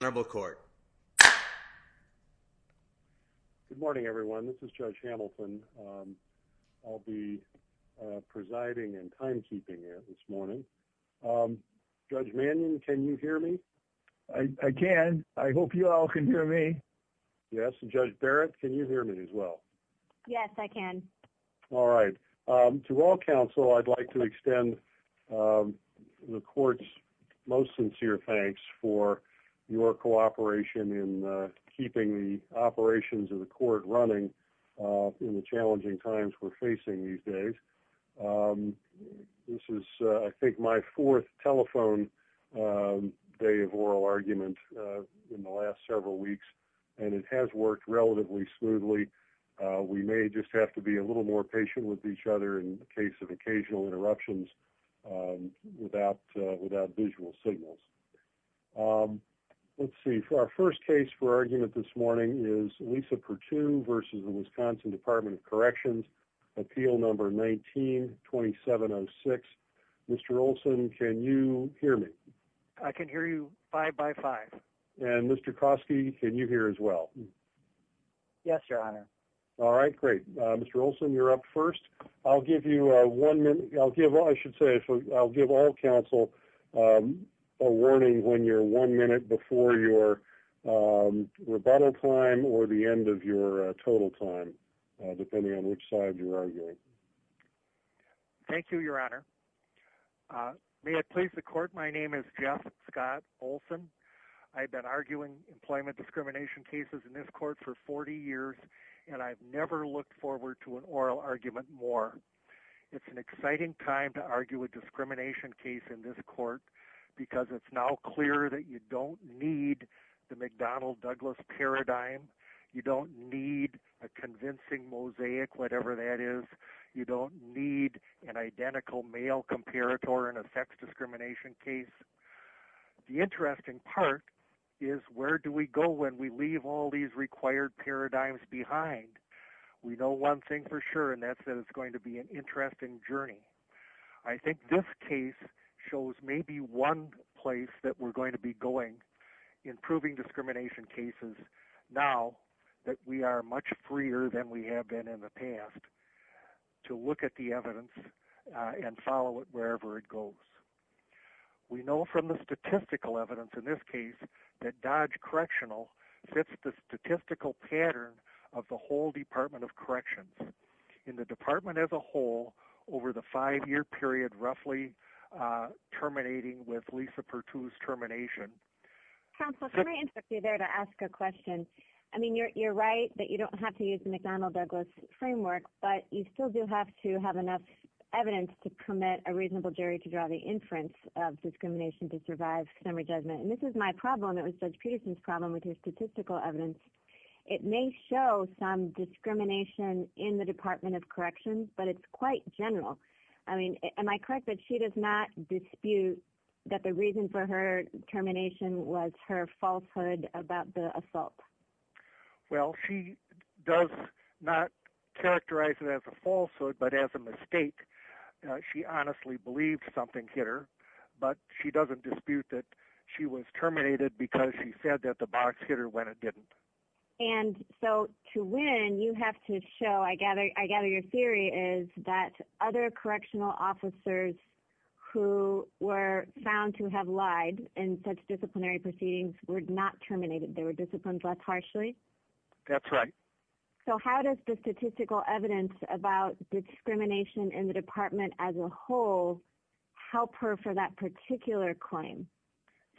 Good morning, everyone. This is Judge Hamilton. I'll be presiding and timekeeping here this morning. Judge Mannion, can you hear me? I can. I hope you all can hear me. Yes. Judge Barrett, can you hear me as well? Yes, I can. All right. To all counsel, I'd like to extend the court's most sincere thanks for your cooperation in keeping the operations of the court running in the challenging times we're facing these days. This is, I think, my fourth telephone day of oral argument in the last several weeks, and it has worked relatively smoothly. We may just have to be a little more patient with each other in the case of occasional interruptions without visual signals. Let's see. Our first case for argument this morning is Lisa Purtue v. Wisconsin Department of Corrections, Appeal No. 19-2706. Mr. Olson, can you hear me? I can hear you five by five. And Mr. Kroski, can you hear as well? Yes, Your Honor. All right. Great. Mr. Olson, you're up first. I'll give you one minute. I'll give I should say I'll give all counsel a warning when you're one minute before your rebuttal time or the end of your total time, depending on which side you're arguing. Thank you, Your Honor. May it please the court. My name is Jeff Scott Olson. I've been arguing employment discrimination cases in this court for 40 years, and I've never looked forward to an oral argument more. It's an exciting time to argue a discrimination case in this court, because it's now clear that you don't need the McDonald-Douglas paradigm. You don't need a convincing mosaic, whatever that is. You don't need an identical male comparator in sex discrimination case. The interesting part is where do we go when we leave all these required paradigms behind? We know one thing for sure, and that's that it's going to be an interesting journey. I think this case shows maybe one place that we're going to be going in proving discrimination cases now that we are much freer than we have been in the past to look at the evidence. We know from the statistical evidence in this case that Dodge Correctional fits the statistical pattern of the whole Department of Corrections. In the department as a whole, over the five-year period roughly terminating with Lisa Pertut's termination. Counsel, can I interrupt you there to ask a question? I mean, you're right that you don't have to use the McDonald-Douglas framework, but you still do have to have enough evidence to permit a reasonable jury to draw the inference of discrimination to survive summary judgment. And this is my problem, it was Judge Peterson's problem with his statistical evidence. It may show some discrimination in the Department of Corrections, but it's quite general. I mean, am I correct that she does not dispute that the reason for her termination was her falsehood about the assault? Well, she does not believe something hit her, but she doesn't dispute that she was terminated because she said that the box hit her when it didn't. And so to win, you have to show, I gather your theory is that other correctional officers who were found to have lied in such disciplinary proceedings were not terminated, they were disciplined less harshly? That's right. So how does the statistical evidence about discrimination in the department as a whole help her for that particular claim?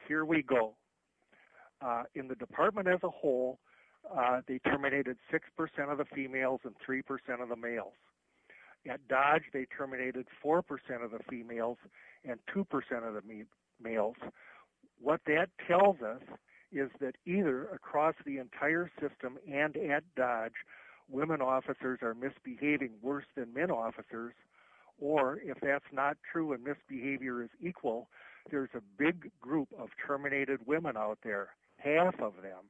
Here we go. In the department as a whole, they terminated 6% of the females and 3% of the males. At Dodge, they terminated 4% of the females and 2% of the males. What that tells us is that either across the men officers, or if that's not true, and misbehavior is equal, there's a big group of terminated women out there, half of them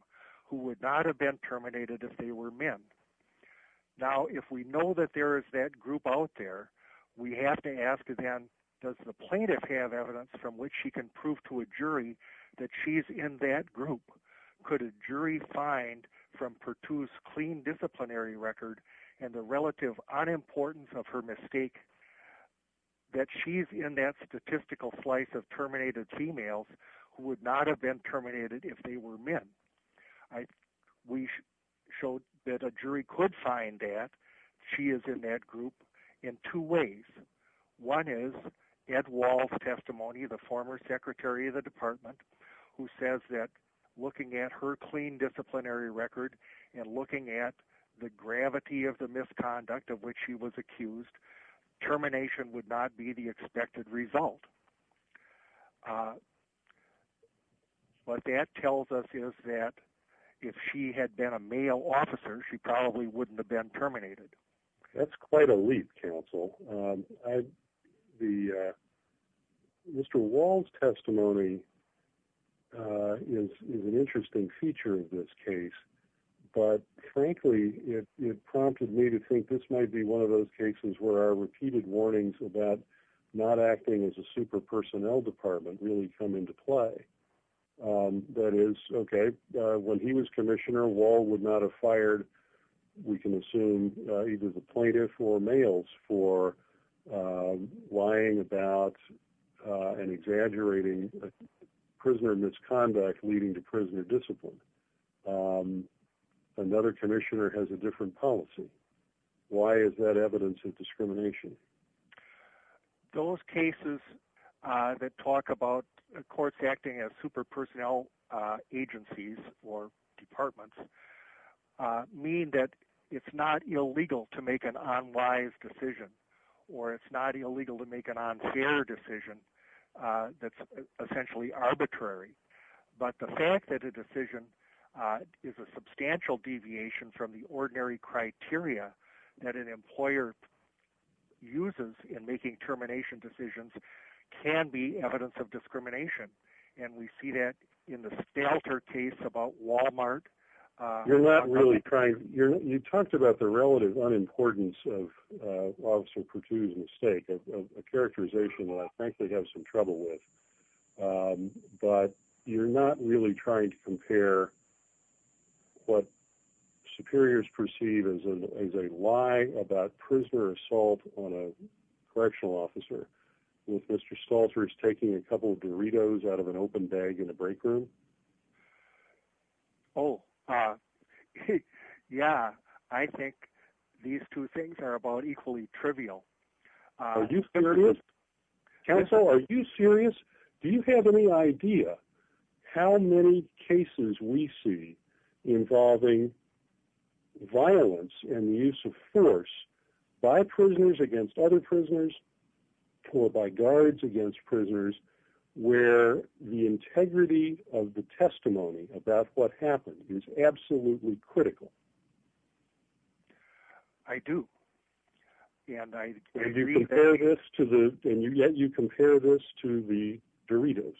who would not have been terminated if they were men. Now, if we know that there is that group out there, we have to ask them, does the plaintiff have evidence from which he can prove to a jury that she's in that group? Could a jury find from Perttu's clean disciplinary record and the relative unimportance of her mistake that she's in that statistical slice of terminated females who would not have been terminated if they were men? We showed that a jury could find that she is in that group in two ways. One is Ed Wall's testimony, the former secretary of the department, who says that looking at her clean disciplinary record and looking at the gravity of the misconduct of which she was accused, termination would not be the expected result. What that tells us is that if she had been a male officer, she probably wouldn't have been terminated. That's quite a leap, counsel. Mr. Wall's testimony is an interesting feature of this case, but frankly, it prompted me to think this might be one of those cases where our repeated warnings about not acting as a super personnel department really come into play. That is, okay, when he was commissioner, Wall would not have fired, we can assume, either the plaintiff or males for lying about and exaggerating prisoner misconduct leading to prisoner discipline. Another commissioner has a different policy. Why is that evidence of discrimination? Those cases that talk about courts acting as super personnel agencies or departments mean that it's not illegal to make an unwise decision, or it's not illegal to make an unfair decision that's essentially arbitrary. But the fact that a decision is a substantial deviation from the ordinary criteria that an employer uses in making termination decisions can be evidence of discrimination. And we see that in the Stalter case about Walmart. You're not really trying, you talked about the relative unimportance of Officer Pertutti's mistake, a compare what superiors perceive as a lie about prisoner assault on a correctional officer with Mr. Stalter's taking a couple of Doritos out of an open bag in the break room. Oh, yeah, I think these two things are about equally trivial. Are you serious? Counsel, are you serious? Do you have any idea how many cases we see involving violence and the use of force by prisoners against other prisoners, or by guards against prisoners, where the integrity of the testimony about what happened is absolutely critical? I do. And you compare this to the, and yet you compare this to the Doritos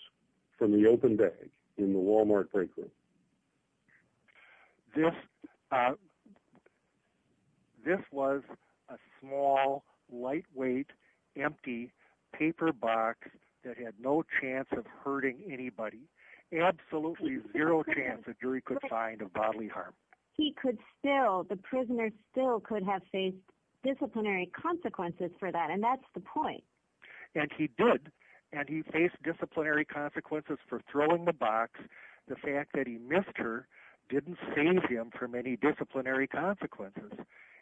from the open bag in the Walmart break room. This, this was a small, lightweight, empty paper box that had no chance of hurting anybody. Absolutely zero chance a jury could find a bodily harm. He could still, the prisoner still could have faced disciplinary consequences for that. And that's the point. And he did. And he faced disciplinary consequences for throwing the box. The fact that he missed her didn't save him from any disciplinary consequences.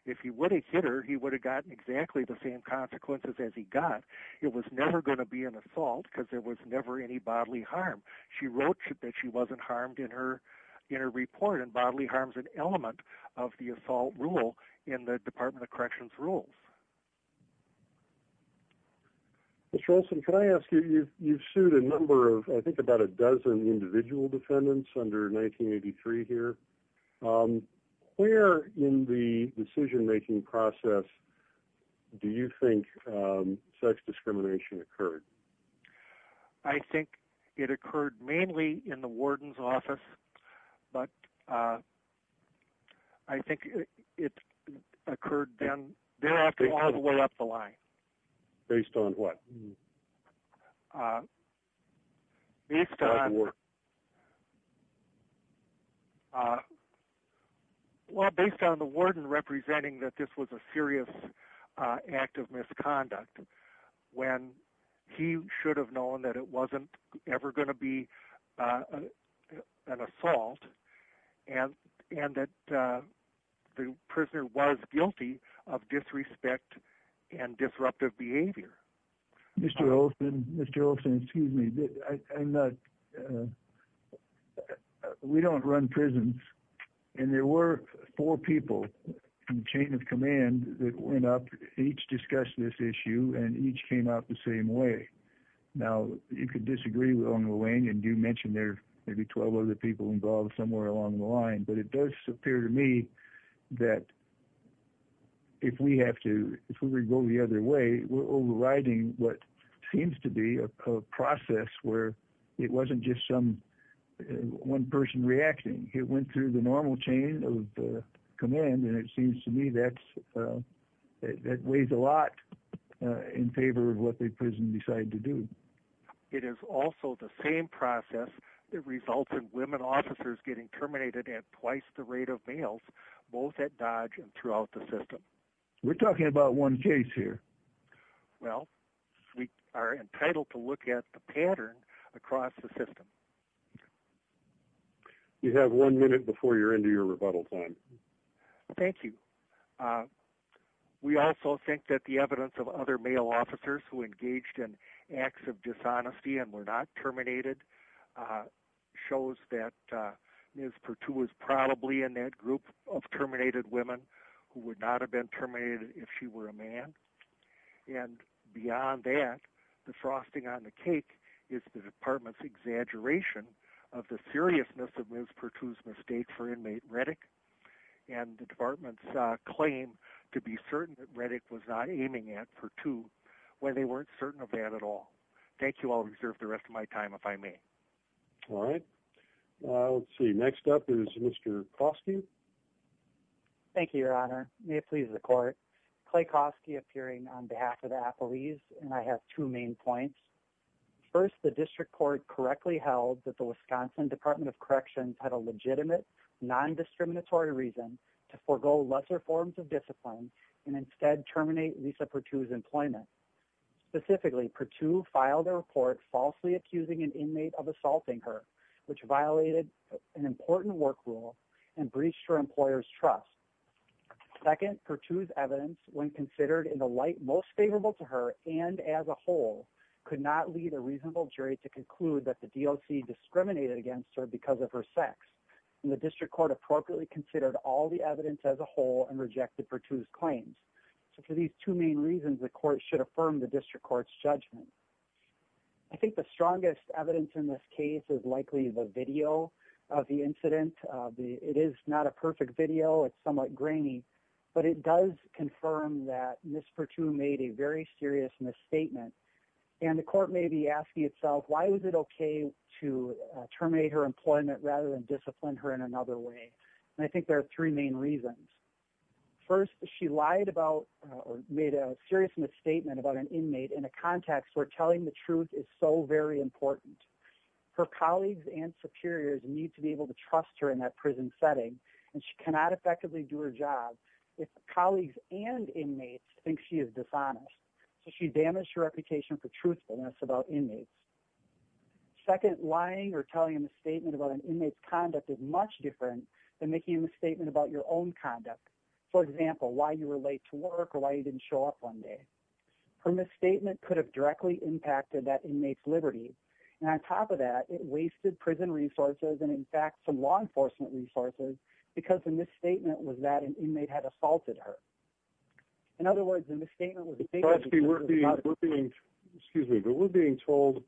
If he would have hit her, he would have gotten exactly the same consequences as he got. It was never going to be an assault because there was never any bodily harm. She wrote that she wasn't harmed in her, in her report. And bodily harm is an element of the assault rule in the Department of Corrections rules. Mr. Olson, can I ask you, you've, you've sued a number of, I think about a dozen individual defendants under 1983 here. Where in the decision making process do you think sex discrimination occurred? I think it occurred mainly in the warden's office. But I think it occurred then, thereafter, all the way up the line. Based on what? Based on Well, based on the warden representing that this was a serious act of misconduct, when he should have known that it wasn't ever going to be an assault, and, and that the prisoner was guilty of disrespect and disruptive behavior. Mr. Olson, Mr. Olson, excuse me, I'm not, we don't run prisons. And there were four people in the chain of command that went up, each discussed this issue, and each came out the same way. Now, you could disagree with Ongoing, and you mentioned there may be 12 other people involved somewhere along the line. But it does appear to me that if we have to, if we go the other way, we're overriding what seems to be a process where it wasn't just some one person reacting, it went through the normal chain of command. And it seems to me that's, that weighs a lot in favor of what the prison decided to do. It is also the same process that results in women officers getting terminated at twice the rate of males, both at Dodge and throughout the system. We're talking about one case here. Well, we are entitled to look at the pattern across the system. You have one minute before you're into your rebuttal time. Thank you. We also think that the evidence of other male officers who engaged in acts of dishonesty and were not terminated, shows that Ms. Perttu was probably in that group of terminated women who would not have been terminated if she were a man. And beyond that, the frosting on the cake is the department's exaggeration of the seriousness of Ms. Perttu's mistake for inmate Redick. And the department's claim to be certain that Redick was not aiming at Perttu, when they weren't certain of that at all. Thank you. I'll reserve the rest of my time if I may. All right. Let's see. Next up is Mr. Koski. Thank you, Your Honor. May it please the court. Clay Koski appearing on behalf of the appelees. And I have two main points. First, the lesser forms of discipline and instead terminate Lisa Perttu's employment. Specifically, Perttu filed a report falsely accusing an inmate of assaulting her, which violated an important work rule and breached her employer's trust. Second, Perttu's evidence, when considered in the light most favorable to her and as a whole, could not lead a reasonable jury to conclude that the DOC discriminated against her because of her sex. And the district court appropriately considered all the evidence as a whole and rejected Perttu's claims. So for these two main reasons, the court should affirm the district court's judgment. I think the strongest evidence in this case is likely the video of the incident. It is not a perfect video. It's somewhat grainy. But it does confirm that Ms. Perttu made a very serious misstatement. And the court may be asking itself, why was it okay to terminate her employment rather than discipline her in another way? And I think there are three main reasons. First, she lied about or made a serious misstatement about an inmate in a context where telling the truth is so very important. Her colleagues and superiors need to be able to trust her in that prison setting. And she cannot effectively do her job if colleagues and inmates think she is dishonest. So she damaged her reputation for truthfulness about inmates. Second, lying or telling a misstatement about an inmate's conduct is much different than making a misstatement about your own conduct. For example, why you were late to work or why you didn't show up one day. Her misstatement could have directly impacted that inmate's liberty. And on top of that, it wasted prison resources and in fact, some law enforcement resources, because the misstatement was that an inmate had assaulted her. In other words, the misstatement was... Excuse me, but we're being told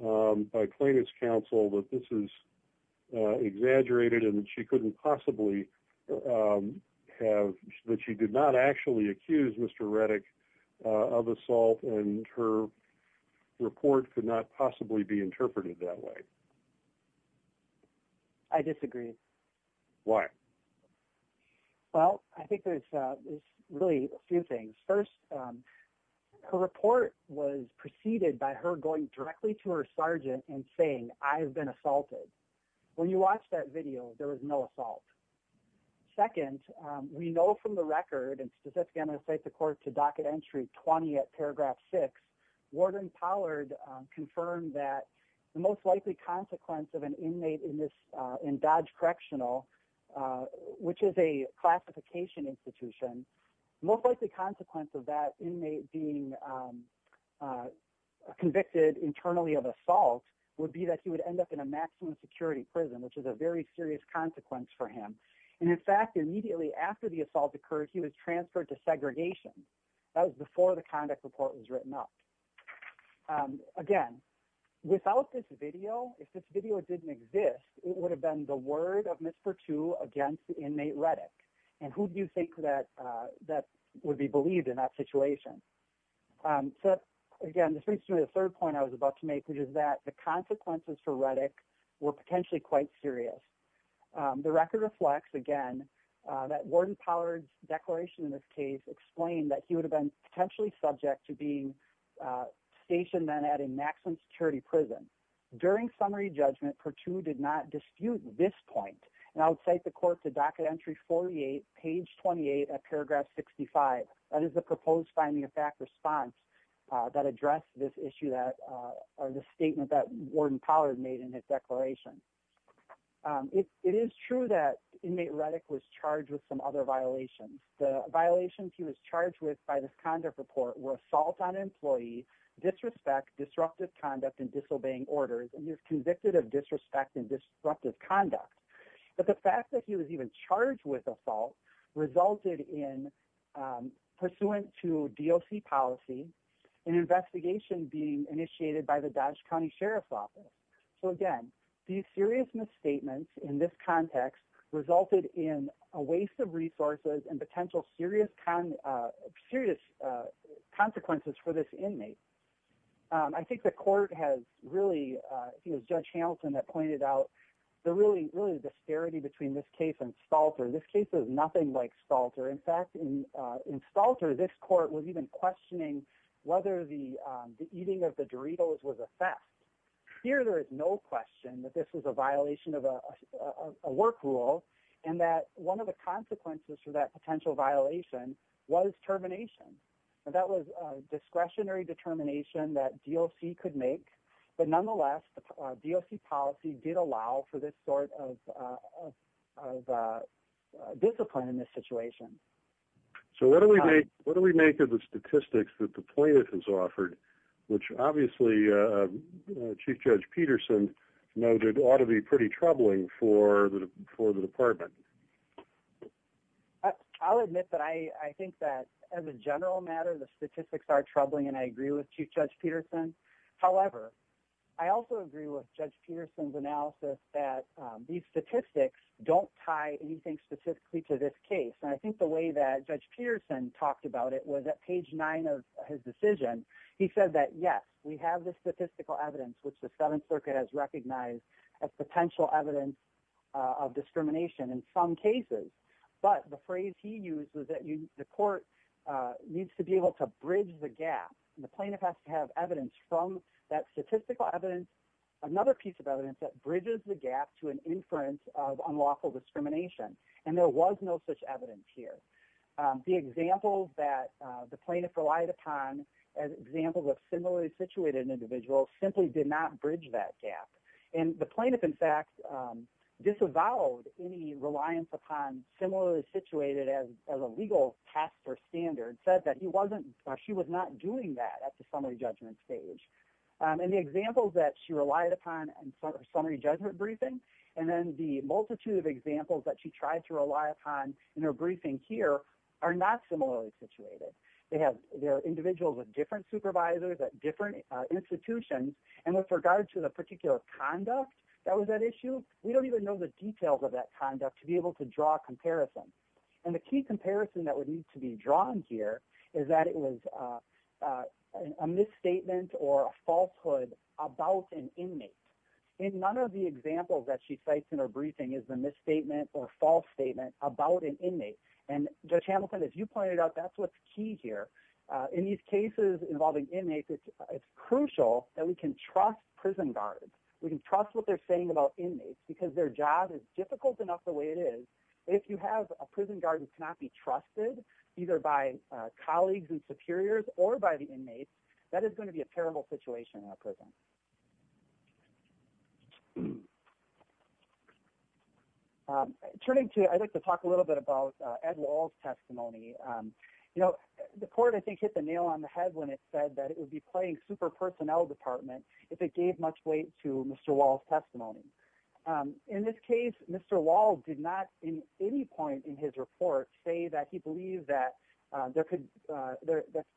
by plaintiff's counsel that this is exaggerated and she couldn't possibly have, that she did not actually accuse Mr. Reddick of assault and her report could not possibly be interpreted that way. I disagree. Why? Well, I think there's really a few things. First, her report was preceded by her going directly to her sergeant and saying, I have been assaulted. When you watch that video, there was no assault. Second, we know from the record and specifically on the state's accord to docket entry 20 at paragraph 6, Warden Pollard confirmed that the most likely consequence of an inmate in Dodge Correctional, which is a classification institution, most likely consequence of that inmate being convicted internally of assault would be that he would end up in a maximum security prison, which is a very serious consequence for him. And in fact, immediately after the assault occurred, he was transferred to segregation. That was before the assault occurred. Again, without this video, if this video didn't exist, it would have been the word of Ms. Pertu against the inmate Reddick. And who do you think that would be believed in that situation? So, again, this brings me to the third point I was about to make, which is that the consequences for Reddick were potentially quite serious. The record reflects, again, that Warden Pollard's declaration in this case explained that he would have been potentially subject to being stationed then at a maximum security prison. During summary judgment, Pertu did not dispute this point. And I would cite the court to docket entry 48, page 28 at paragraph 65. That is the proposed finding of fact response that addressed this issue that or the statement that Warden Pollard made in his declaration. It is true that inmate Reddick was charged with some other violations. The violations he was charged with by this conduct report were assault on employee, disrespect, disruptive conduct, and disobeying orders. And he was convicted of disrespect and disruptive conduct. But the fact that he was even charged with assault resulted in, pursuant to DOC policy, an investigation being initiated by the Dodge County Sheriff's Office. So, again, these serious misstatements in this context resulted in a waste of resources and potential serious consequences for this inmate. I think the court has really, you know, Judge Hamilton had pointed out the really, really disparity between this case and Stalter. This case is a violation of a work rule. And that one of the consequences for that potential violation was termination. That was a discretionary determination that DOC could make. But, nonetheless, the DOC policy did allow for this sort of discipline in this situation. So what do we make of the statistics that the plaintiff has offered, which obviously Chief Judge Peterson noted ought to be pretty troubling for the department? I'll admit that I think that, as a general matter, the statistics are troubling, and I agree with Chief Judge Peterson. However, I also agree with Judge Hamilton in the way that Judge Peterson talked about it was at page nine of his decision. He said that, yes, we have the statistical evidence, which the Seventh Circuit has recognized as potential evidence of discrimination in some cases. But the phrase he used was that the court needs to be able to bridge the gap. The plaintiff has to have evidence from that statistical evidence, another piece of evidence that bridges the gap to an inference of unlawful discrimination. And there was no such evidence here. The examples that the plaintiff relied upon as examples of similarly situated individuals simply did not bridge that gap. And the plaintiff, in fact, disavowed any reliance upon similarly situated as a legal task or standard, said that he wasn't, she was not doing that at the summary judgment stage. And the examples that she relied upon in her summary judgment briefing, and then the multitude of examples that she tried to rely upon in her briefing here are not similarly situated. They have individuals with different supervisors at different institutions, and with regard to the particular conduct that was at issue, we don't even know the details of that conduct to be able to draw a comparison. And the key comparison that would need to be drawn here is that it was a misstatement or a falsehood about an inmate. In none of the examples that she cites in her briefing is the misstatement or false statement about an inmate. And Judge Hamilton, as you pointed out, that's what's key here. In these cases involving inmates, it's crucial that we can trust prison guards. We can trust what they're saying about inmates because their job is difficult enough the way it is. If you have a prison guard who cannot be trusted, either by colleagues and superiors or by the inmates, that is going to be a terrible situation in a prison. Turning to, I'd like to talk a little bit about Ed Wall's testimony. You know, the court I think hit the nail on the head when it said that it would be playing super personnel department if it gave much weight to Mr. Wall's testimony. In this case, Mr. Wall did not in any point in his report say that he believed that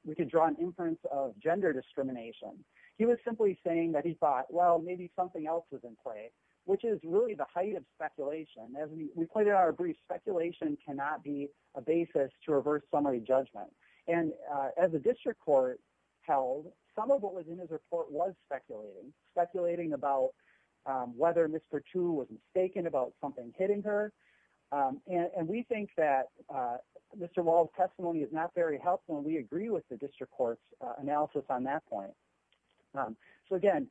we could draw an inference of gender discrimination. He was simply saying that he thought, well, maybe something else was in play, which is really the height of speculation. As we pointed out in our brief, speculation cannot be a basis to reverse summary judgment. And as the district court held, some of what was in his report was speculating. Speculating about whether Mr. Tu was mistaken about something hitting her. And we think that Mr. Wall's testimony is not very helpful and we agree with the district court's analysis on that point. So again,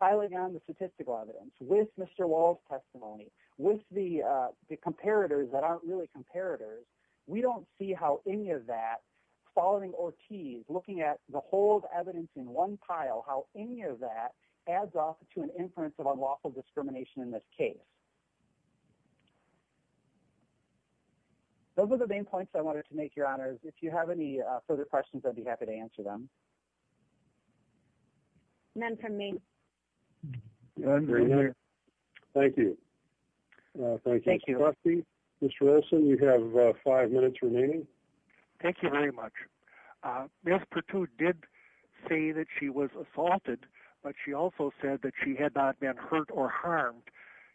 piling on the statistical evidence with Mr. Wall's testimony, with the comparators that aren't really comparators, we don't see how any of that following Ortiz, looking at the whole evidence in one pile, how any of that adds off to an inference of unlawful discrimination in this case. Those are the main points I wanted to make, Your Honors. If you have any further questions, I'd be happy to answer them. None from me. None from you. Thank you. Thank you. Mr. Olson, you have five minutes remaining. Thank you very much. Ms. Pertut did say that she was assaulted, but she also said that she had not been hurt or harmed.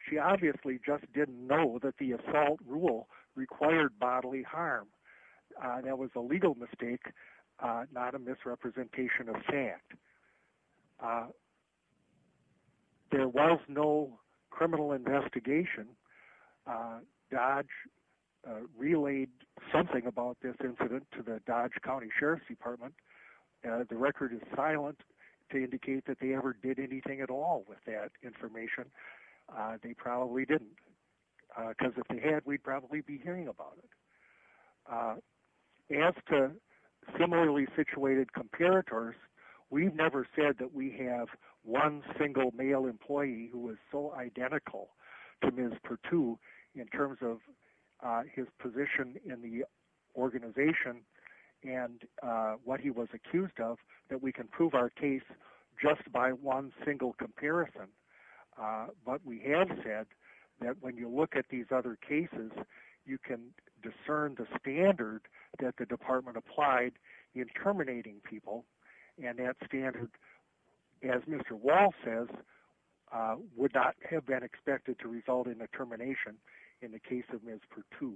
She obviously just didn't know that the assault rule required bodily harm. That was a legal mistake, not a misrepresentation of fact. There was no criminal investigation. Dodge relayed something about this incident to the Dodge County Sheriff's Department. The record is silent to indicate that they ever did anything at all with that information. They probably didn't, because if they had, we'd probably be hearing about it. As to similarly situated comparators, we've never said that we have one single male employee who is so identical to Ms. Pertut in terms of his position in the organization and what he was accused of that we can prove our case just by one single comparison. But we have said that when you look at these other cases, you can discern the standard that the department applied in terminating people. And that standard, as Mr. Wall says, would not have been expected to result in a termination in the case of Ms. Pertut.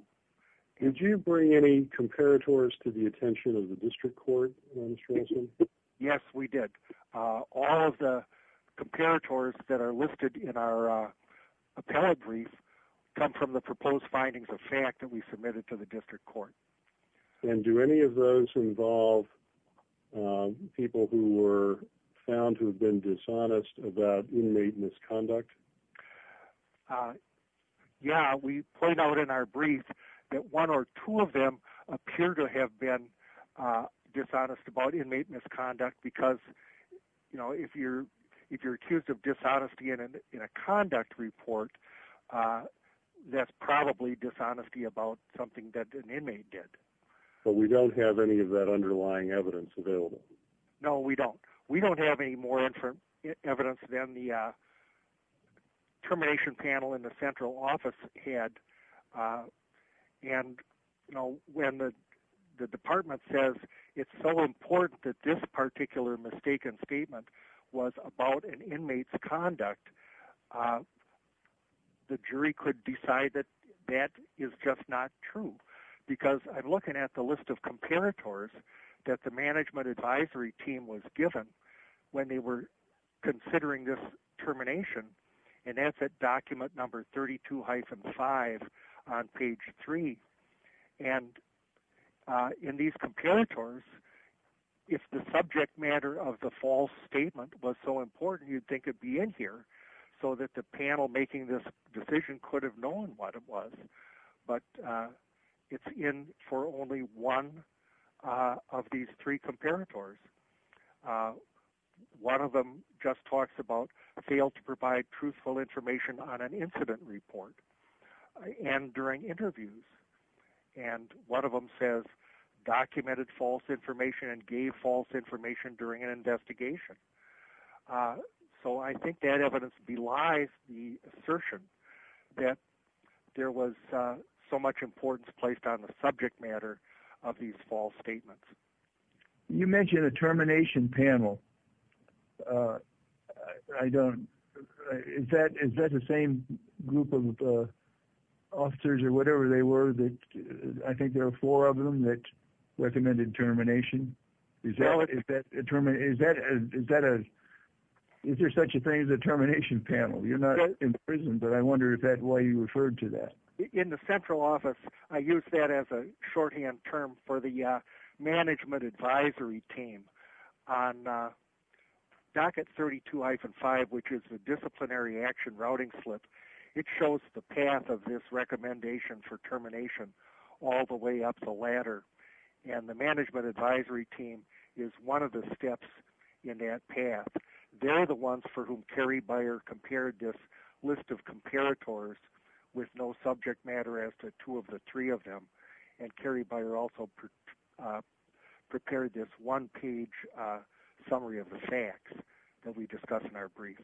Did you bring any comparators to the attention of the district court, Mr. Olson? Yes, we did. All of the comparators that are listed in our appellate brief come from the proposed findings of fact that we submitted to the district court. And do any of those involve people who were found to have been dishonest about inmate misconduct? Yeah, we point out in our brief that one or two of them appear to have been dishonest about inmate misconduct because if you're accused of dishonesty in a conduct report, that's probably dishonesty about something that an inmate did. But we don't have any of that underlying evidence available? No, we don't. We don't have any more evidence than the termination panel in the central office had. And, you know, when the department says it's so important that this particular mistaken statement was about an inmate's conduct, the jury could decide that that is just not true. Because I'm looking at the list of comparators that the management advisory team was given when they were considering this termination. And that's at document number 32-5 on page three. And in these comparators, if the subject matter of the false statement was so important, you'd think it'd be in here so that the panel making this decision could have known what it was. But it's in for only one of these three comparators. One of them just talks about failed to provide truthful information on an incident report and during interviews. And one of them says documented false information and gave false information during an investigation. So I think that evidence belies the assertion that there was so much importance placed on the subject matter of these false statements. You mentioned a termination panel. I don't, is that the same group of officers or whatever they were that, I think there are four of them that recommended termination? Is that a, is there such a thing as a termination panel? You're not in prison, but I wonder if that's why you referred to that. In the central office, I use that as a shorthand term for the management advisory team on docket 32-5, which is the disciplinary action routing slip. It shows the path of this recommendation for termination all the way up the ladder. And the management advisory team is one of the steps in that path. They're the ones for whom Carrie Byer compared this list of comparators with no subject matter as to two of the three of them. And Carrie Byer also prepared this one page summary of the facts that we discussed in our brief.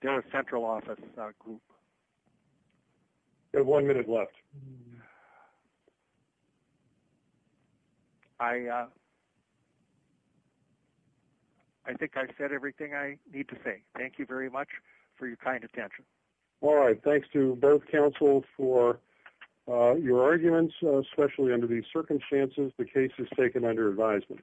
They're a central office group. We have one minute left. I, I think I've said everything I need to say. Thank you very much for your kind attention. All right. Thanks to both counsel for your arguments, especially under these circumstances, the case is taken under advisement.